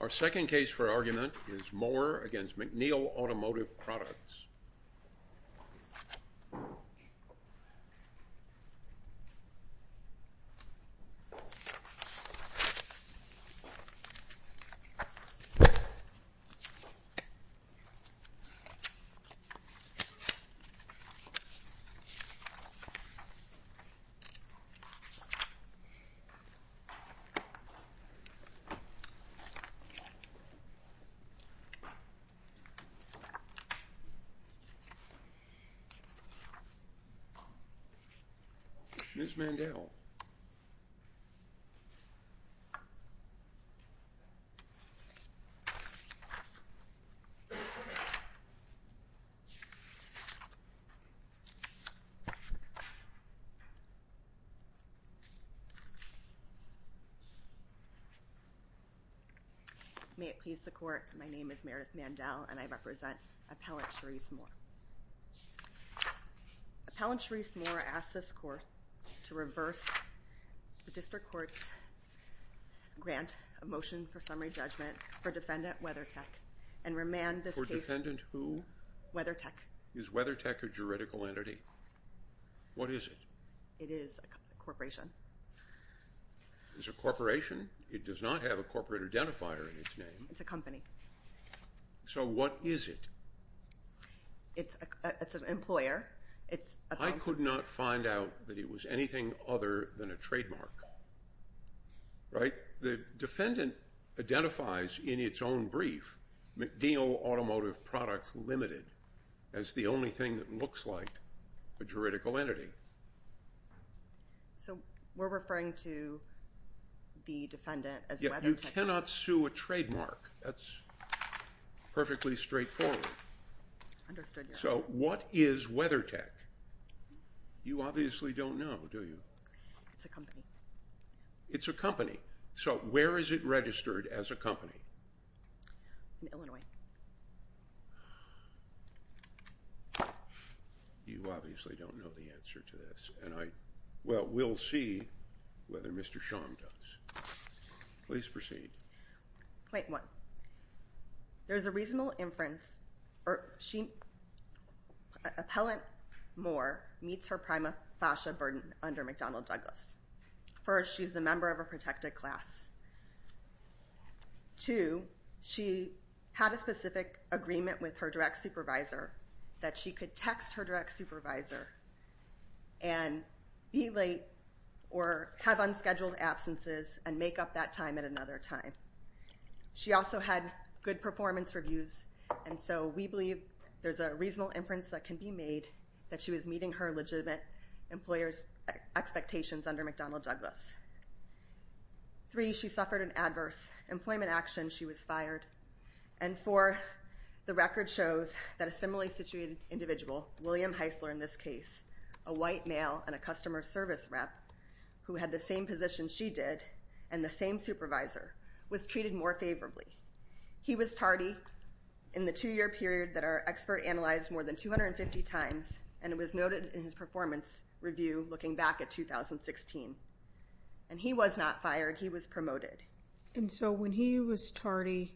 Our second case for argument is Mohr v. McNeil Automotive Products. Ms. Mandel May it please the Court, my name is Meredith Mandel and I represent Appellant Sharesse Mohr v. WeatherTech, and I'm here to ask this Court to reverse the District Court's grant of motion for summary judgment for Defendant WeatherTech and remand this case For Defendant who? WeatherTech Is WeatherTech a juridical entity? What is it? It is a corporation. It's a corporation? It does not have a corporate identifier in its name. It's a company. So what is it? It's an employer. I could not find out that it was anything other than a trademark, right? The Defendant identifies in its own brief McNeil Automotive Products Limited as the only thing that looks like a juridical entity. So we're referring to the Defendant as WeatherTech? You cannot sue a trademark. That's perfectly straightforward. Understood, Your Honor. So what is WeatherTech? You obviously don't know, do you? It's a company. It's a company. So where is it registered as a company? In Illinois. You obviously don't know the answer to this. Well, we'll see whether Mr. Sharm does. Please proceed. Point one, there's a reasonable inference. Appellant Moore meets her prima facie burden under McDonnell Douglas. First, she's a member of a protected class. Two, she had a specific agreement with her direct supervisor that she could text her and be late or have unscheduled absences and make up that time at another time. She also had good performance reviews, and so we believe there's a reasonable inference that can be made that she was meeting her legitimate employer's expectations under McDonnell Douglas. Three, she suffered an adverse employment action. She was fired. And four, the record shows that a similarly situated individual, William Heisler in this case, a white male and a customer service rep who had the same position she did and the same supervisor, was treated more favorably. He was tardy in the two-year period that our expert analyzed more than 250 times, and it was noted in his performance review looking back at 2016. And he was not fired. He was promoted. And so when he was tardy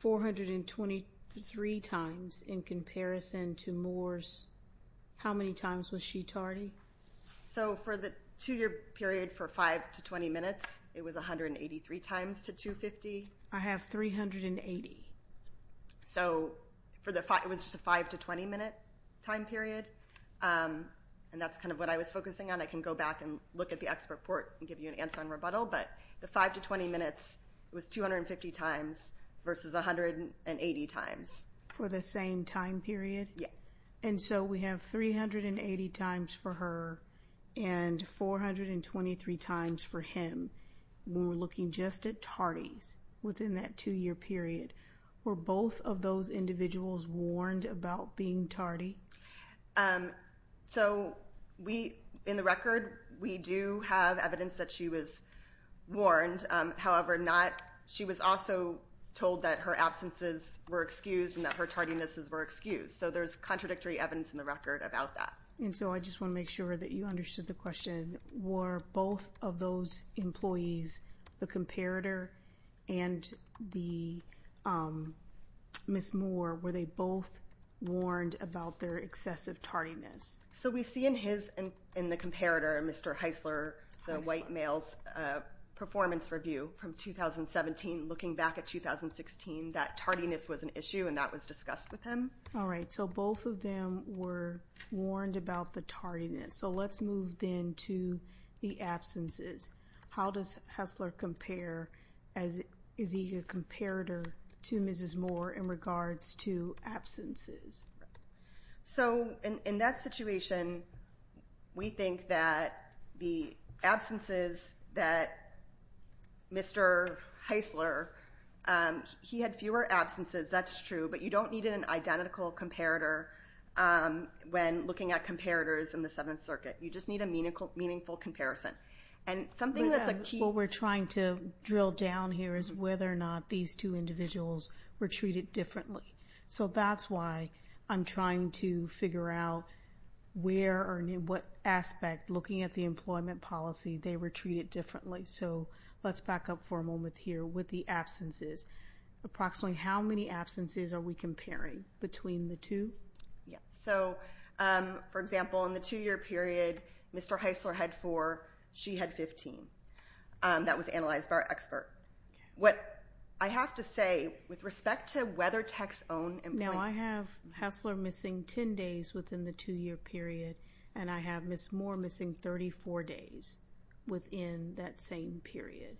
423 times in comparison to Moore's, how many times was she tardy? So for the two-year period for 5 to 20 minutes, it was 183 times to 250. I have 380. So it was just a 5 to 20-minute time period, and that's kind of what I was focusing on. I can go back and look at the expert report and give you an answer on rebuttal, but the 5 to 20 minutes was 250 times versus 180 times. For the same time period? Yeah. And so we have 380 times for her and 423 times for him when we're looking just at tardies within that two-year period. Were both of those individuals warned about being tardy? So in the record, we do have evidence that she was warned. However, she was also told that her absences were excused and that her tardinesses were excused. So there's contradictory evidence in the record about that. And so I just want to make sure that you understood the question. Were both of those employees, the comparator and the Ms. Moore, were they both warned about their excessive tardiness? So we see in the comparator, Mr. Heisler, the white male's performance review from 2017. Looking back at 2016, that tardiness was an issue, and that was discussed with him. All right, so both of them were warned about the tardiness. So let's move then to the absences. How does Heisler compare? Is he a comparator to Mrs. Moore in regards to absences? So in that situation, we think that the absences that Mr. Heisler, he had fewer absences, that's true, but you don't need an identical comparator when looking at comparators in the Seventh Circuit. You just need a meaningful comparison. And something that's a key— What we're trying to drill down here is whether or not these two individuals were treated differently. So that's why I'm trying to figure out where or in what aspect, looking at the employment policy, they were treated differently. So let's back up for a moment here with the absences. Approximately how many absences are we comparing between the two? So, for example, in the two-year period, Mr. Heisler had four. She had 15. That was analyzed by our expert. What I have to say, with respect to whether techs own employment— Now, I have Heisler missing 10 days within the two-year period, and I have Mrs. Moore missing 34 days within that same period.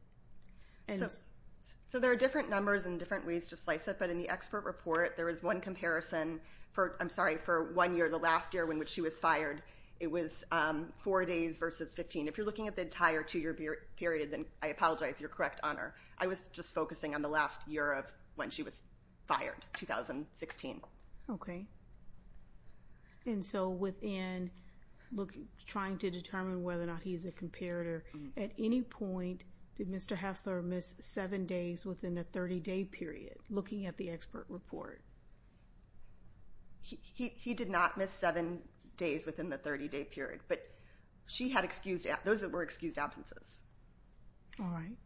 So there are different numbers and different ways to slice it, but in the expert report, there is one comparison for— I'm sorry, for one year, the last year in which she was fired. It was four days versus 15. If you're looking at the entire two-year period, then I apologize. You're correct on her. I was just focusing on the last year of when she was fired, 2016. Okay. And so within trying to determine whether or not he's a comparator, at any point, did Mr. Heisler miss seven days within a 30-day period? Looking at the expert report. He did not miss seven days within the 30-day period, but those were excused absences. All right.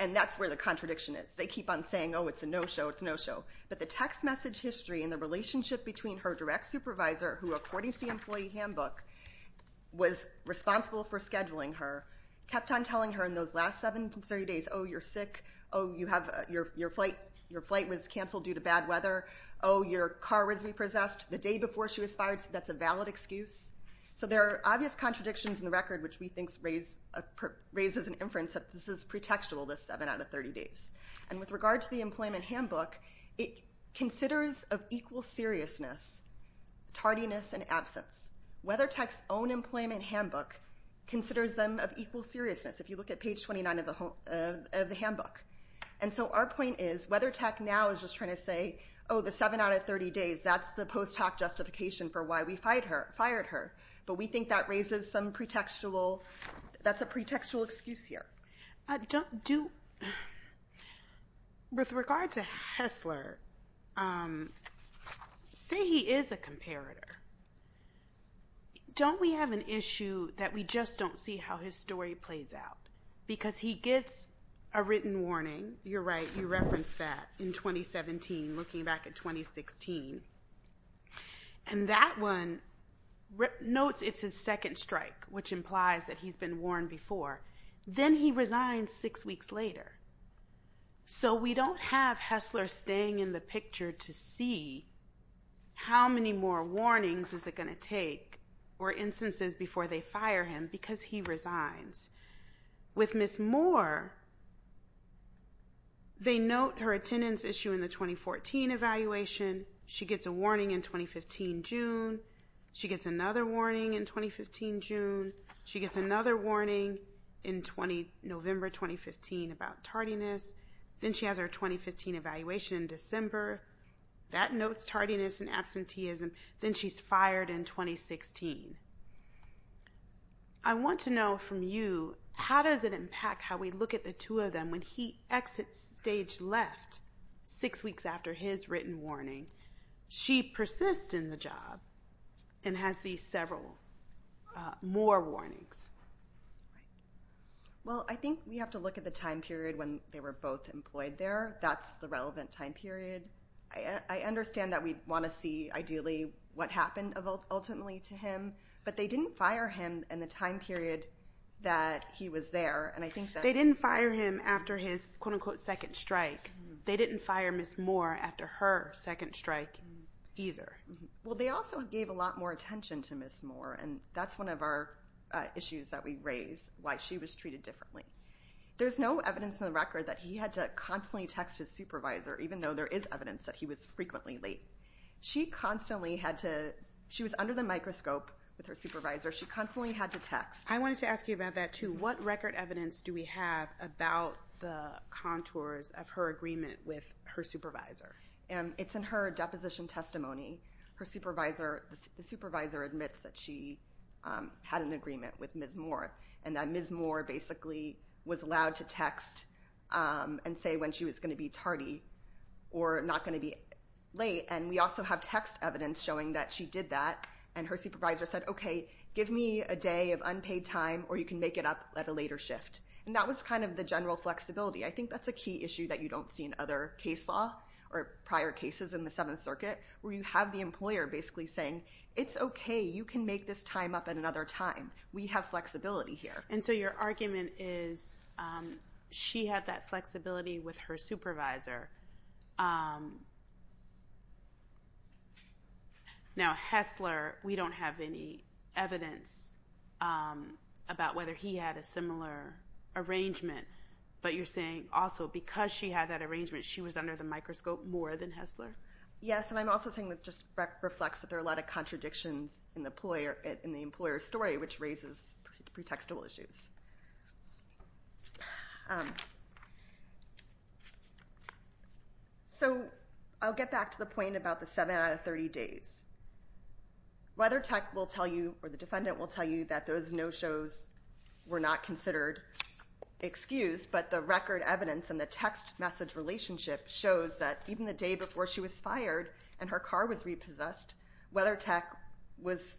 And that's where the contradiction is. They keep on saying, oh, it's a no-show, it's a no-show. But the text message history and the relationship between her direct supervisor, who, according to the employee handbook, was responsible for scheduling her, kept on telling her in those last seven to 30 days, oh, you're sick, oh, your flight was canceled due to bad weather, oh, your car was repossessed. The day before she was fired, that's a valid excuse. So there are obvious contradictions in the record, which we think raises an inference that this is pretextual, this seven out of 30 days. And with regard to the employment handbook, it considers of equal seriousness tardiness and absence. WeatherTech's own employment handbook considers them of equal seriousness. If you look at page 29 of the handbook. And so our point is, WeatherTech now is just trying to say, oh, the seven out of 30 days, that's the post hoc justification for why we fired her. But we think that raises some pretextual, that's a pretextual excuse here. With regard to Hessler, say he is a comparator. Don't we have an issue that we just don't see how his story plays out? Because he gets a written warning. You're right, you referenced that in 2017, looking back at 2016. And that one notes it's his second strike, which implies that he's been warned before. Then he resigns six weeks later. So we don't have Hessler staying in the picture to see how many more warnings is it going to take or instances before they fire him because he resigns. With Ms. Moore, they note her attendance issue in the 2014 evaluation. She gets a warning in 2015 June. She gets another warning in 2015 June. She gets another warning in November 2015 about tardiness. Then she has her 2015 evaluation in December. That notes tardiness and absenteeism. Then she's fired in 2016. I want to know from you, how does it impact how we look at the two of them when he exits stage left six weeks after his written warning? She persists in the job and has these several more warnings. Well, I think we have to look at the time period when they were both employed there. That's the relevant time period. I understand that we want to see, ideally, what happened ultimately to him. But they didn't fire him in the time period that he was there. They didn't fire him after his, quote-unquote, second strike. They didn't fire Ms. Moore after her second strike either. Well, they also gave a lot more attention to Ms. Moore, and that's one of our issues that we raise, why she was treated differently. There's no evidence in the record that he had to constantly text his supervisor, even though there is evidence that he was frequently late. She constantly had to—she was under the microscope with her supervisor. She constantly had to text. I wanted to ask you about that too. What information do we have about the contours of her agreement with her supervisor? It's in her deposition testimony. The supervisor admits that she had an agreement with Ms. Moore and that Ms. Moore basically was allowed to text and say when she was going to be tardy or not going to be late, and we also have text evidence showing that she did that. And her supervisor said, okay, give me a day of unpaid time or you can make it up at a later shift. And that was kind of the general flexibility. I think that's a key issue that you don't see in other case law or prior cases in the Seventh Circuit where you have the employer basically saying, it's okay, you can make this time up at another time. We have flexibility here. And so your argument is she had that flexibility with her supervisor. Now, Hessler, we don't have any evidence about whether he had a similar arrangement, but you're saying also because she had that arrangement, she was under the microscope more than Hessler? Yes, and I'm also saying that just reflects that there are a lot of contradictions in the employer's story, which raises pretextual issues. So I'll get back to the point about the 7 out of 30 days. WeatherTech will tell you or the defendant will tell you that those no-shows were not considered excused, but the record evidence and the text message relationship shows that even the day before she was fired and her car was repossessed, WeatherTech was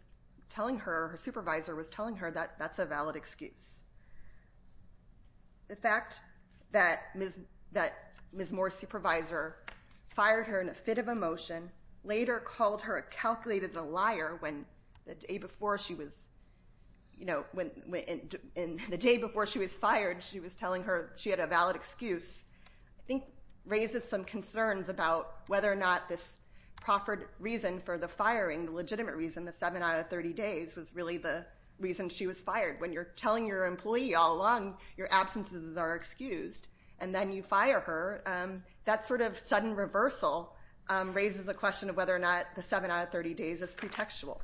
telling her, her supervisor was telling her that that's a valid excuse. The fact that Ms. Moore's supervisor fired her in a fit of emotion, later called her a calculated liar the day before she was fired, she was telling her she had a valid excuse, I think raises some concerns about whether or not this proper reason for the firing, the legitimate reason, the 7 out of 30 days, was really the reason she was fired. When you're telling your employee all along your absences are excused and then you fire her, that sort of sudden reversal raises a question of whether or not the 7 out of 30 days is pretextual.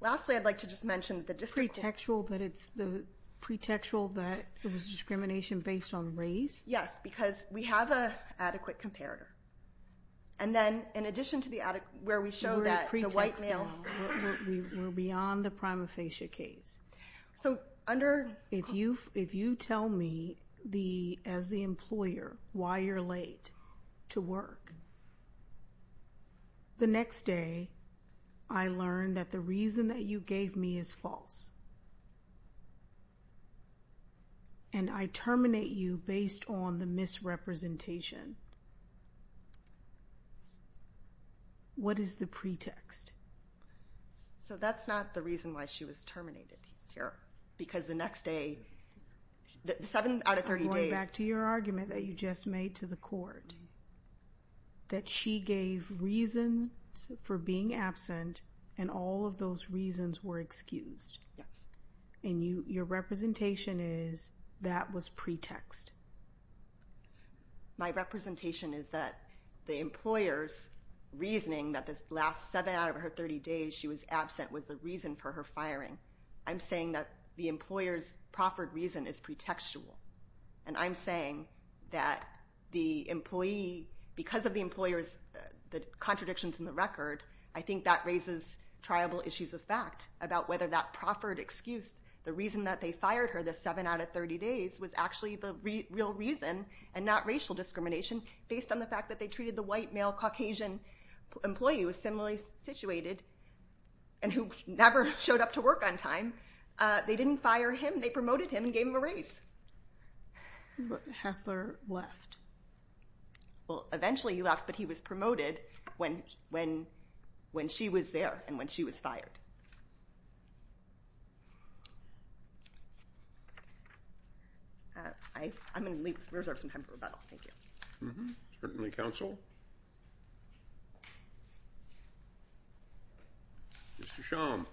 Lastly, I'd like to just mention the district court. Pretextual that it's the pretextual that it was discrimination based on race? Yes, because we have an adequate comparator. And then in addition to the adequate, where we show that the white male... We're beyond the prima facie case. So under... If you tell me as the employer why you're late to work, the next day I learn that the reason that you gave me is false. And I terminate you based on the misrepresentation. What is the pretext? So that's not the reason why she was terminated here. Because the next day, the 7 out of 30 days... Going back to your argument that you just made to the court, that she gave reasons for being absent and all of those reasons were excused. Yes. And your representation is that was pretext. My representation is that the employer's reasoning that the last 7 out of her 30 days she was absent was the reason for her firing. I'm saying that the employer's proffered reason is pretextual. And I'm saying that the employee... Because of the employer's contradictions in the record, I think that raises triable issues of fact about whether that proffered excuse, the reason that they fired her the 7 out of 30 days, was actually the real reason and not racial discrimination based on the fact that they treated the white male Caucasian employee who was similarly situated and who never showed up to work on time. They didn't fire him. They promoted him and gave him a raise. Hassler left. Well, eventually he left, but he was promoted when she was there and when she was fired. I'm going to reserve some time for rebuttal. Certainly, counsel. Mr. Schaum.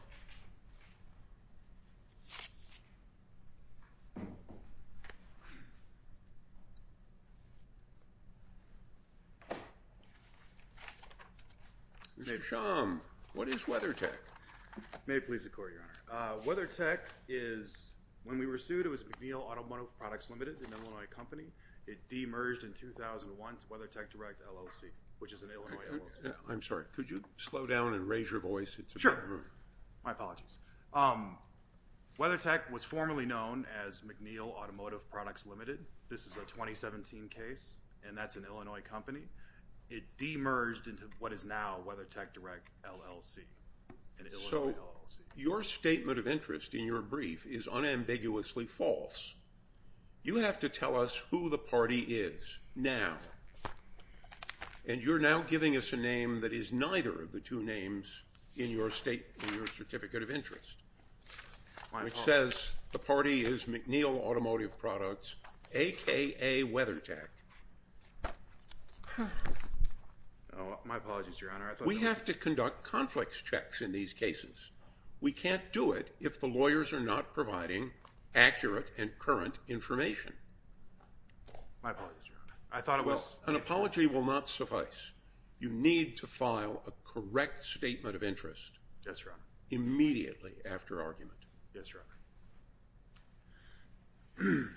Mr. Schaum, what is WeatherTech? May it please the Court, Your Honor. WeatherTech is, when we were sued, it was McNeil Automotive Products Limited, an Illinois company. It demerged in 2001 to WeatherTech Direct LLC, which is an Illinois LLC. I'm sorry. Could you slow down and raise your voice? Sure. My apologies. WeatherTech was formerly known as McNeil Automotive Products Limited. This is a 2017 case, and that's an Illinois company. It demerged into what is now WeatherTech Direct LLC, an Illinois LLC. So your statement of interest in your brief is unambiguously false. You have to tell us who the party is now, and you're now giving us a name that is neither of the two names in your certificate of interest, which says the party is McNeil Automotive Products, a.k.a. WeatherTech. My apologies, Your Honor. We have to conduct conflicts checks in these cases. We can't do it if the lawyers are not providing accurate and current information. My apologies, Your Honor. I thought it was. An apology will not suffice. You need to file a correct statement of interest immediately after argument. Yes, Your Honor.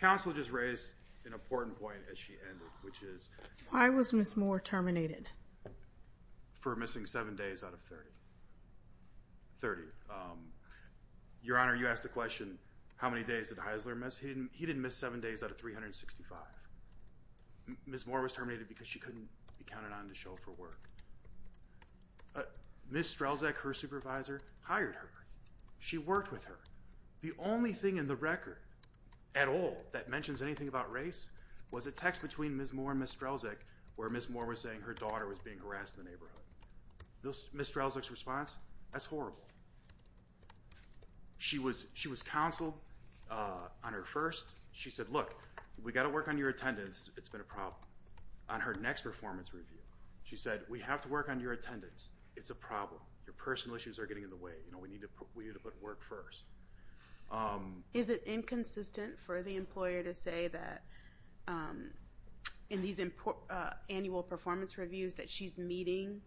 Counsel just raised an important point as she ended, which is? Why was Ms. Moore terminated? For missing 7 days out of 30. 30. Your Honor, you asked the question, how many days did Heisler miss? He didn't miss 7 days out of 365. Ms. Moore was terminated because she couldn't be counted on to show up for work. Ms. Strelzak, her supervisor, hired her. She worked with her. The only thing in the record at all that mentions anything about race was a text between Ms. Moore and Ms. Strelzak where Ms. Moore was saying her daughter was being harassed in the neighborhood. Ms. Strelzak's response, that's horrible. She was counseled on her first. She said, look, we've got to work on your attendance. It's been a problem. On her next performance review, she said, we have to work on your attendance. It's a problem. Your personal issues are getting in the way. We need to put work first. Is it inconsistent for the employer to say that in these annual performance reviews that she's meeting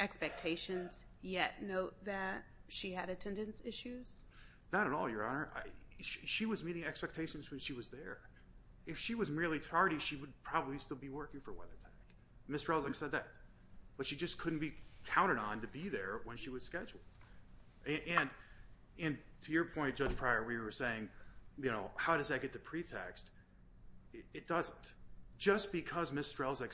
expectations yet note that she had attendance issues? Not at all, Your Honor. She was meeting expectations when she was there. If she was merely tardy, she would probably still be working for WeatherTech. Ms. Strelzak said that. But she just couldn't be counted on to be there when she was scheduled. And to your point, Judge Pryor, where you were saying, how does that get to pretext? It doesn't. Just because Ms. Strelzak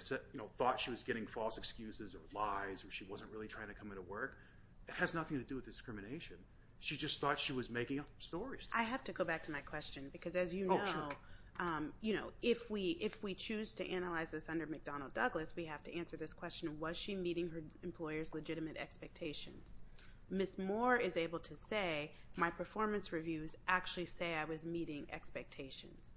thought she was getting false excuses or lies or she wasn't really trying to come into work, it has nothing to do with discrimination. She just thought she was making up stories. I have to go back to my question because, as you know, if we choose to analyze this under McDonnell Douglas, we have to answer this question, was she meeting her employer's legitimate expectations? Ms. Moore is able to say, my performance reviews actually say I was meeting expectations.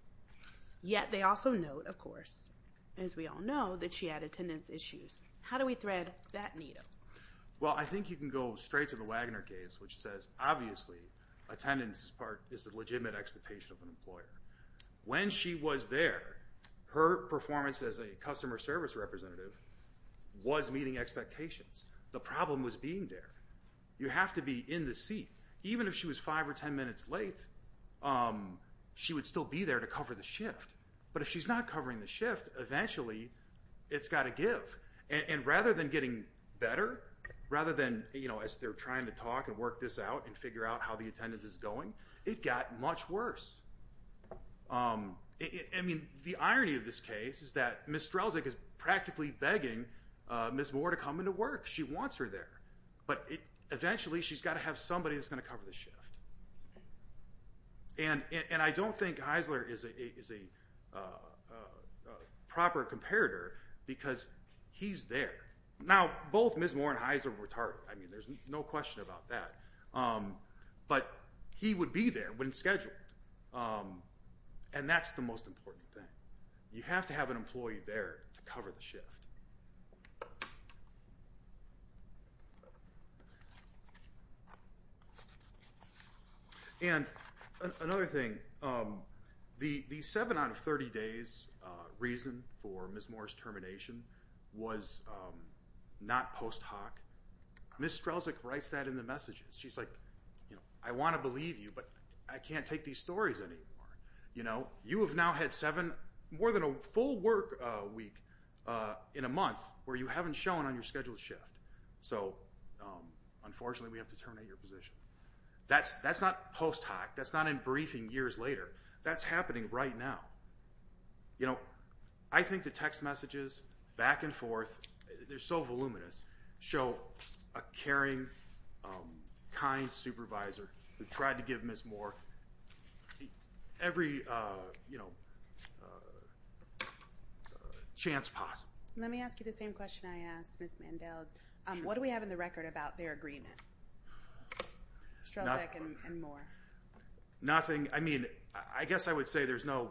Yet they also note, of course, as we all know, that she had attendance issues. How do we thread that needle? Well, I think you can go straight to the Wagner case, which says, obviously, attendance is the legitimate expectation of an employer. When she was there, her performance as a customer service representative was meeting expectations. The problem was being there. You have to be in the seat. Even if she was 5 or 10 minutes late, she would still be there to cover the shift. But if she's not covering the shift, eventually it's got to give. And rather than getting better, rather than, you know, as they're trying to talk and work this out and figure out how the attendance is going, it got much worse. I mean, the irony of this case is that Ms. Strelzick is practically begging Ms. Moore to come into work. She wants her there. But eventually she's got to have somebody that's going to cover the shift. And I don't think Eisler is a proper comparator because he's there. Now, both Ms. Moore and Eisler were tardy. I mean, there's no question about that. But he would be there when scheduled. And that's the most important thing. You have to have an employee there to cover the shift. And another thing. The 7 out of 30 days reason for Ms. Moore's termination was not post hoc. Ms. Strelzick writes that in the messages. She's like, you know, I want to believe you, but I can't take these stories anymore. You know, you have now had seven, more than a full work week in a month where you haven't shown on your scheduled shift. So, unfortunately, we have to terminate your position. That's not post hoc. That's not in briefing years later. That's happening right now. You know, I think the text messages, back and forth, they're so voluminous, show a caring, kind supervisor who tried to give Ms. Moore every chance possible. Let me ask you the same question I asked Ms. Mandel. What do we have in the record about their agreement? Strelzick and Moore. Nothing. I mean, I guess I would say there's no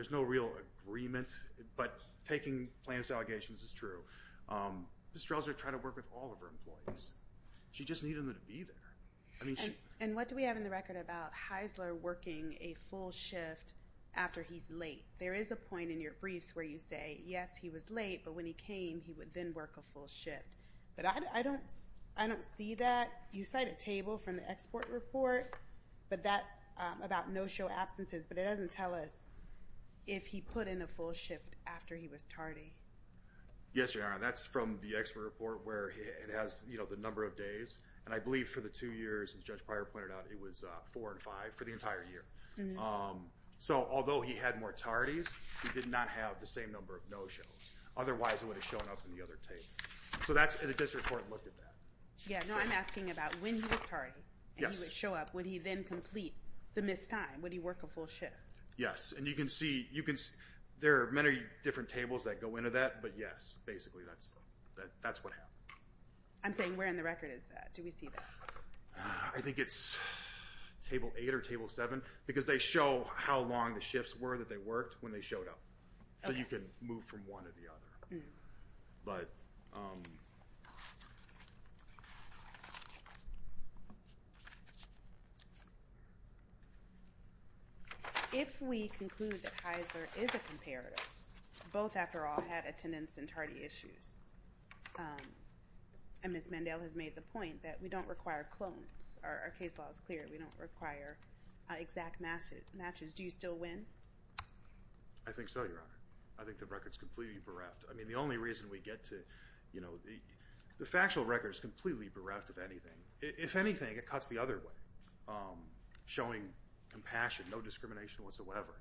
real agreement, but taking plaintiff's allegations is true. Ms. Strelzick tried to work with all of her employees. She just needed them to be there. And what do we have in the record about Heisler working a full shift after he's late? There is a point in your briefs where you say, yes, he was late, but when he came, he would then work a full shift. But I don't see that. You cite a table from the export report about no-show absences, but it doesn't tell us if he put in a full shift after he was tardy. Yes, Your Honor, that's from the export report where it has the number of days. And I believe for the two years, as Judge Pryor pointed out, it was four and five for the entire year. So although he had more tardies, he did not have the same number of no-shows. Otherwise, it would have shown up in the other table. So that's the district court looked at that. Yeah, no, I'm asking about when he was tardy, and he would show up, would he then complete the missed time? Would he work a full shift? Yes, and you can see there are many different tables that go into that, but yes, basically that's what happened. I'm saying where in the record is that? Do we see that? I think it's Table 8 or Table 7 because they show how long the shifts were that they worked when they showed up. So you can move from one to the other. But... If we conclude that Heisler is a comparative, both, after all, had attendance and tardy issues, and Ms. Mendell has made the point that we don't require clones. Our case law is clear. We don't require exact matches. Do you still win? I think so, Your Honor. I think the record is completely bereft. I mean, the only reason we get to... The factual record is completely bereft of anything. If anything, it cuts the other way, showing compassion, no discrimination whatsoever.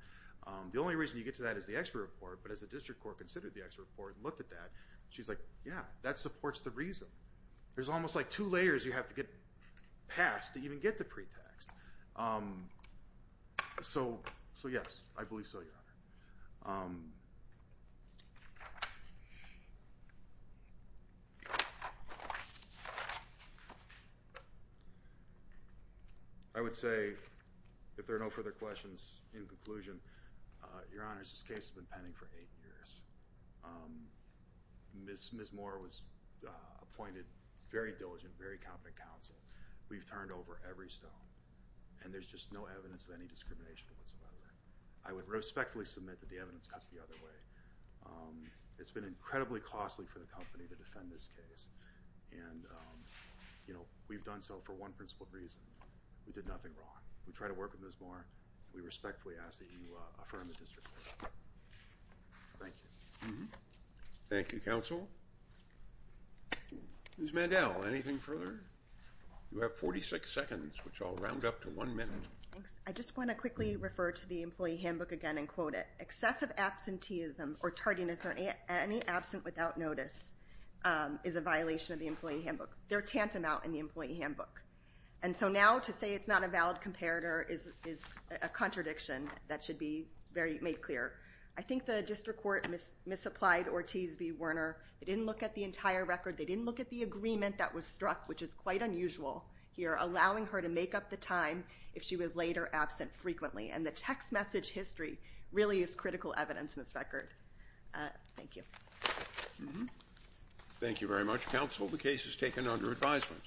The only reason you get to that is the expert report, but as the district court considered the expert report and looked at that, she's like, yeah, that supports the reason. There's almost like two layers you have to get past to even get to pretext. So yes, I believe so, Your Honor. Thank you. I would say, if there are no further questions, in conclusion, Your Honor, this case has been pending for eight years. Ms. Moore was appointed very diligent, very competent counsel. We've turned over every stone, and there's just no evidence of any discrimination whatsoever. I would respectfully submit that the evidence cuts the other way. It's been incredibly costly for the company to defend this case, and we've done so for one principled reason. We did nothing wrong. We try to work with Ms. Moore. We respectfully ask that you affirm the district court. Thank you. Thank you, counsel. Ms. Mandel, anything further? You have 46 seconds, which I'll round up to one minute. Thanks. I just want to quickly refer to the employee handbook again and quote it. Excessive absenteeism or tardiness or any absent without notice is a violation of the employee handbook. There are tantamount in the employee handbook. And so now to say it's not a valid comparator is a contradiction that should be made clear. I think the district court misapplied Ortiz v. Werner. They didn't look at the entire record. They didn't look at the agreement that was struck, which is quite unusual here, allowing her to make up the time if she was later absent frequently. And the text message history really is critical evidence in this record. Thank you. Thank you very much, counsel. The case is taken under advisement.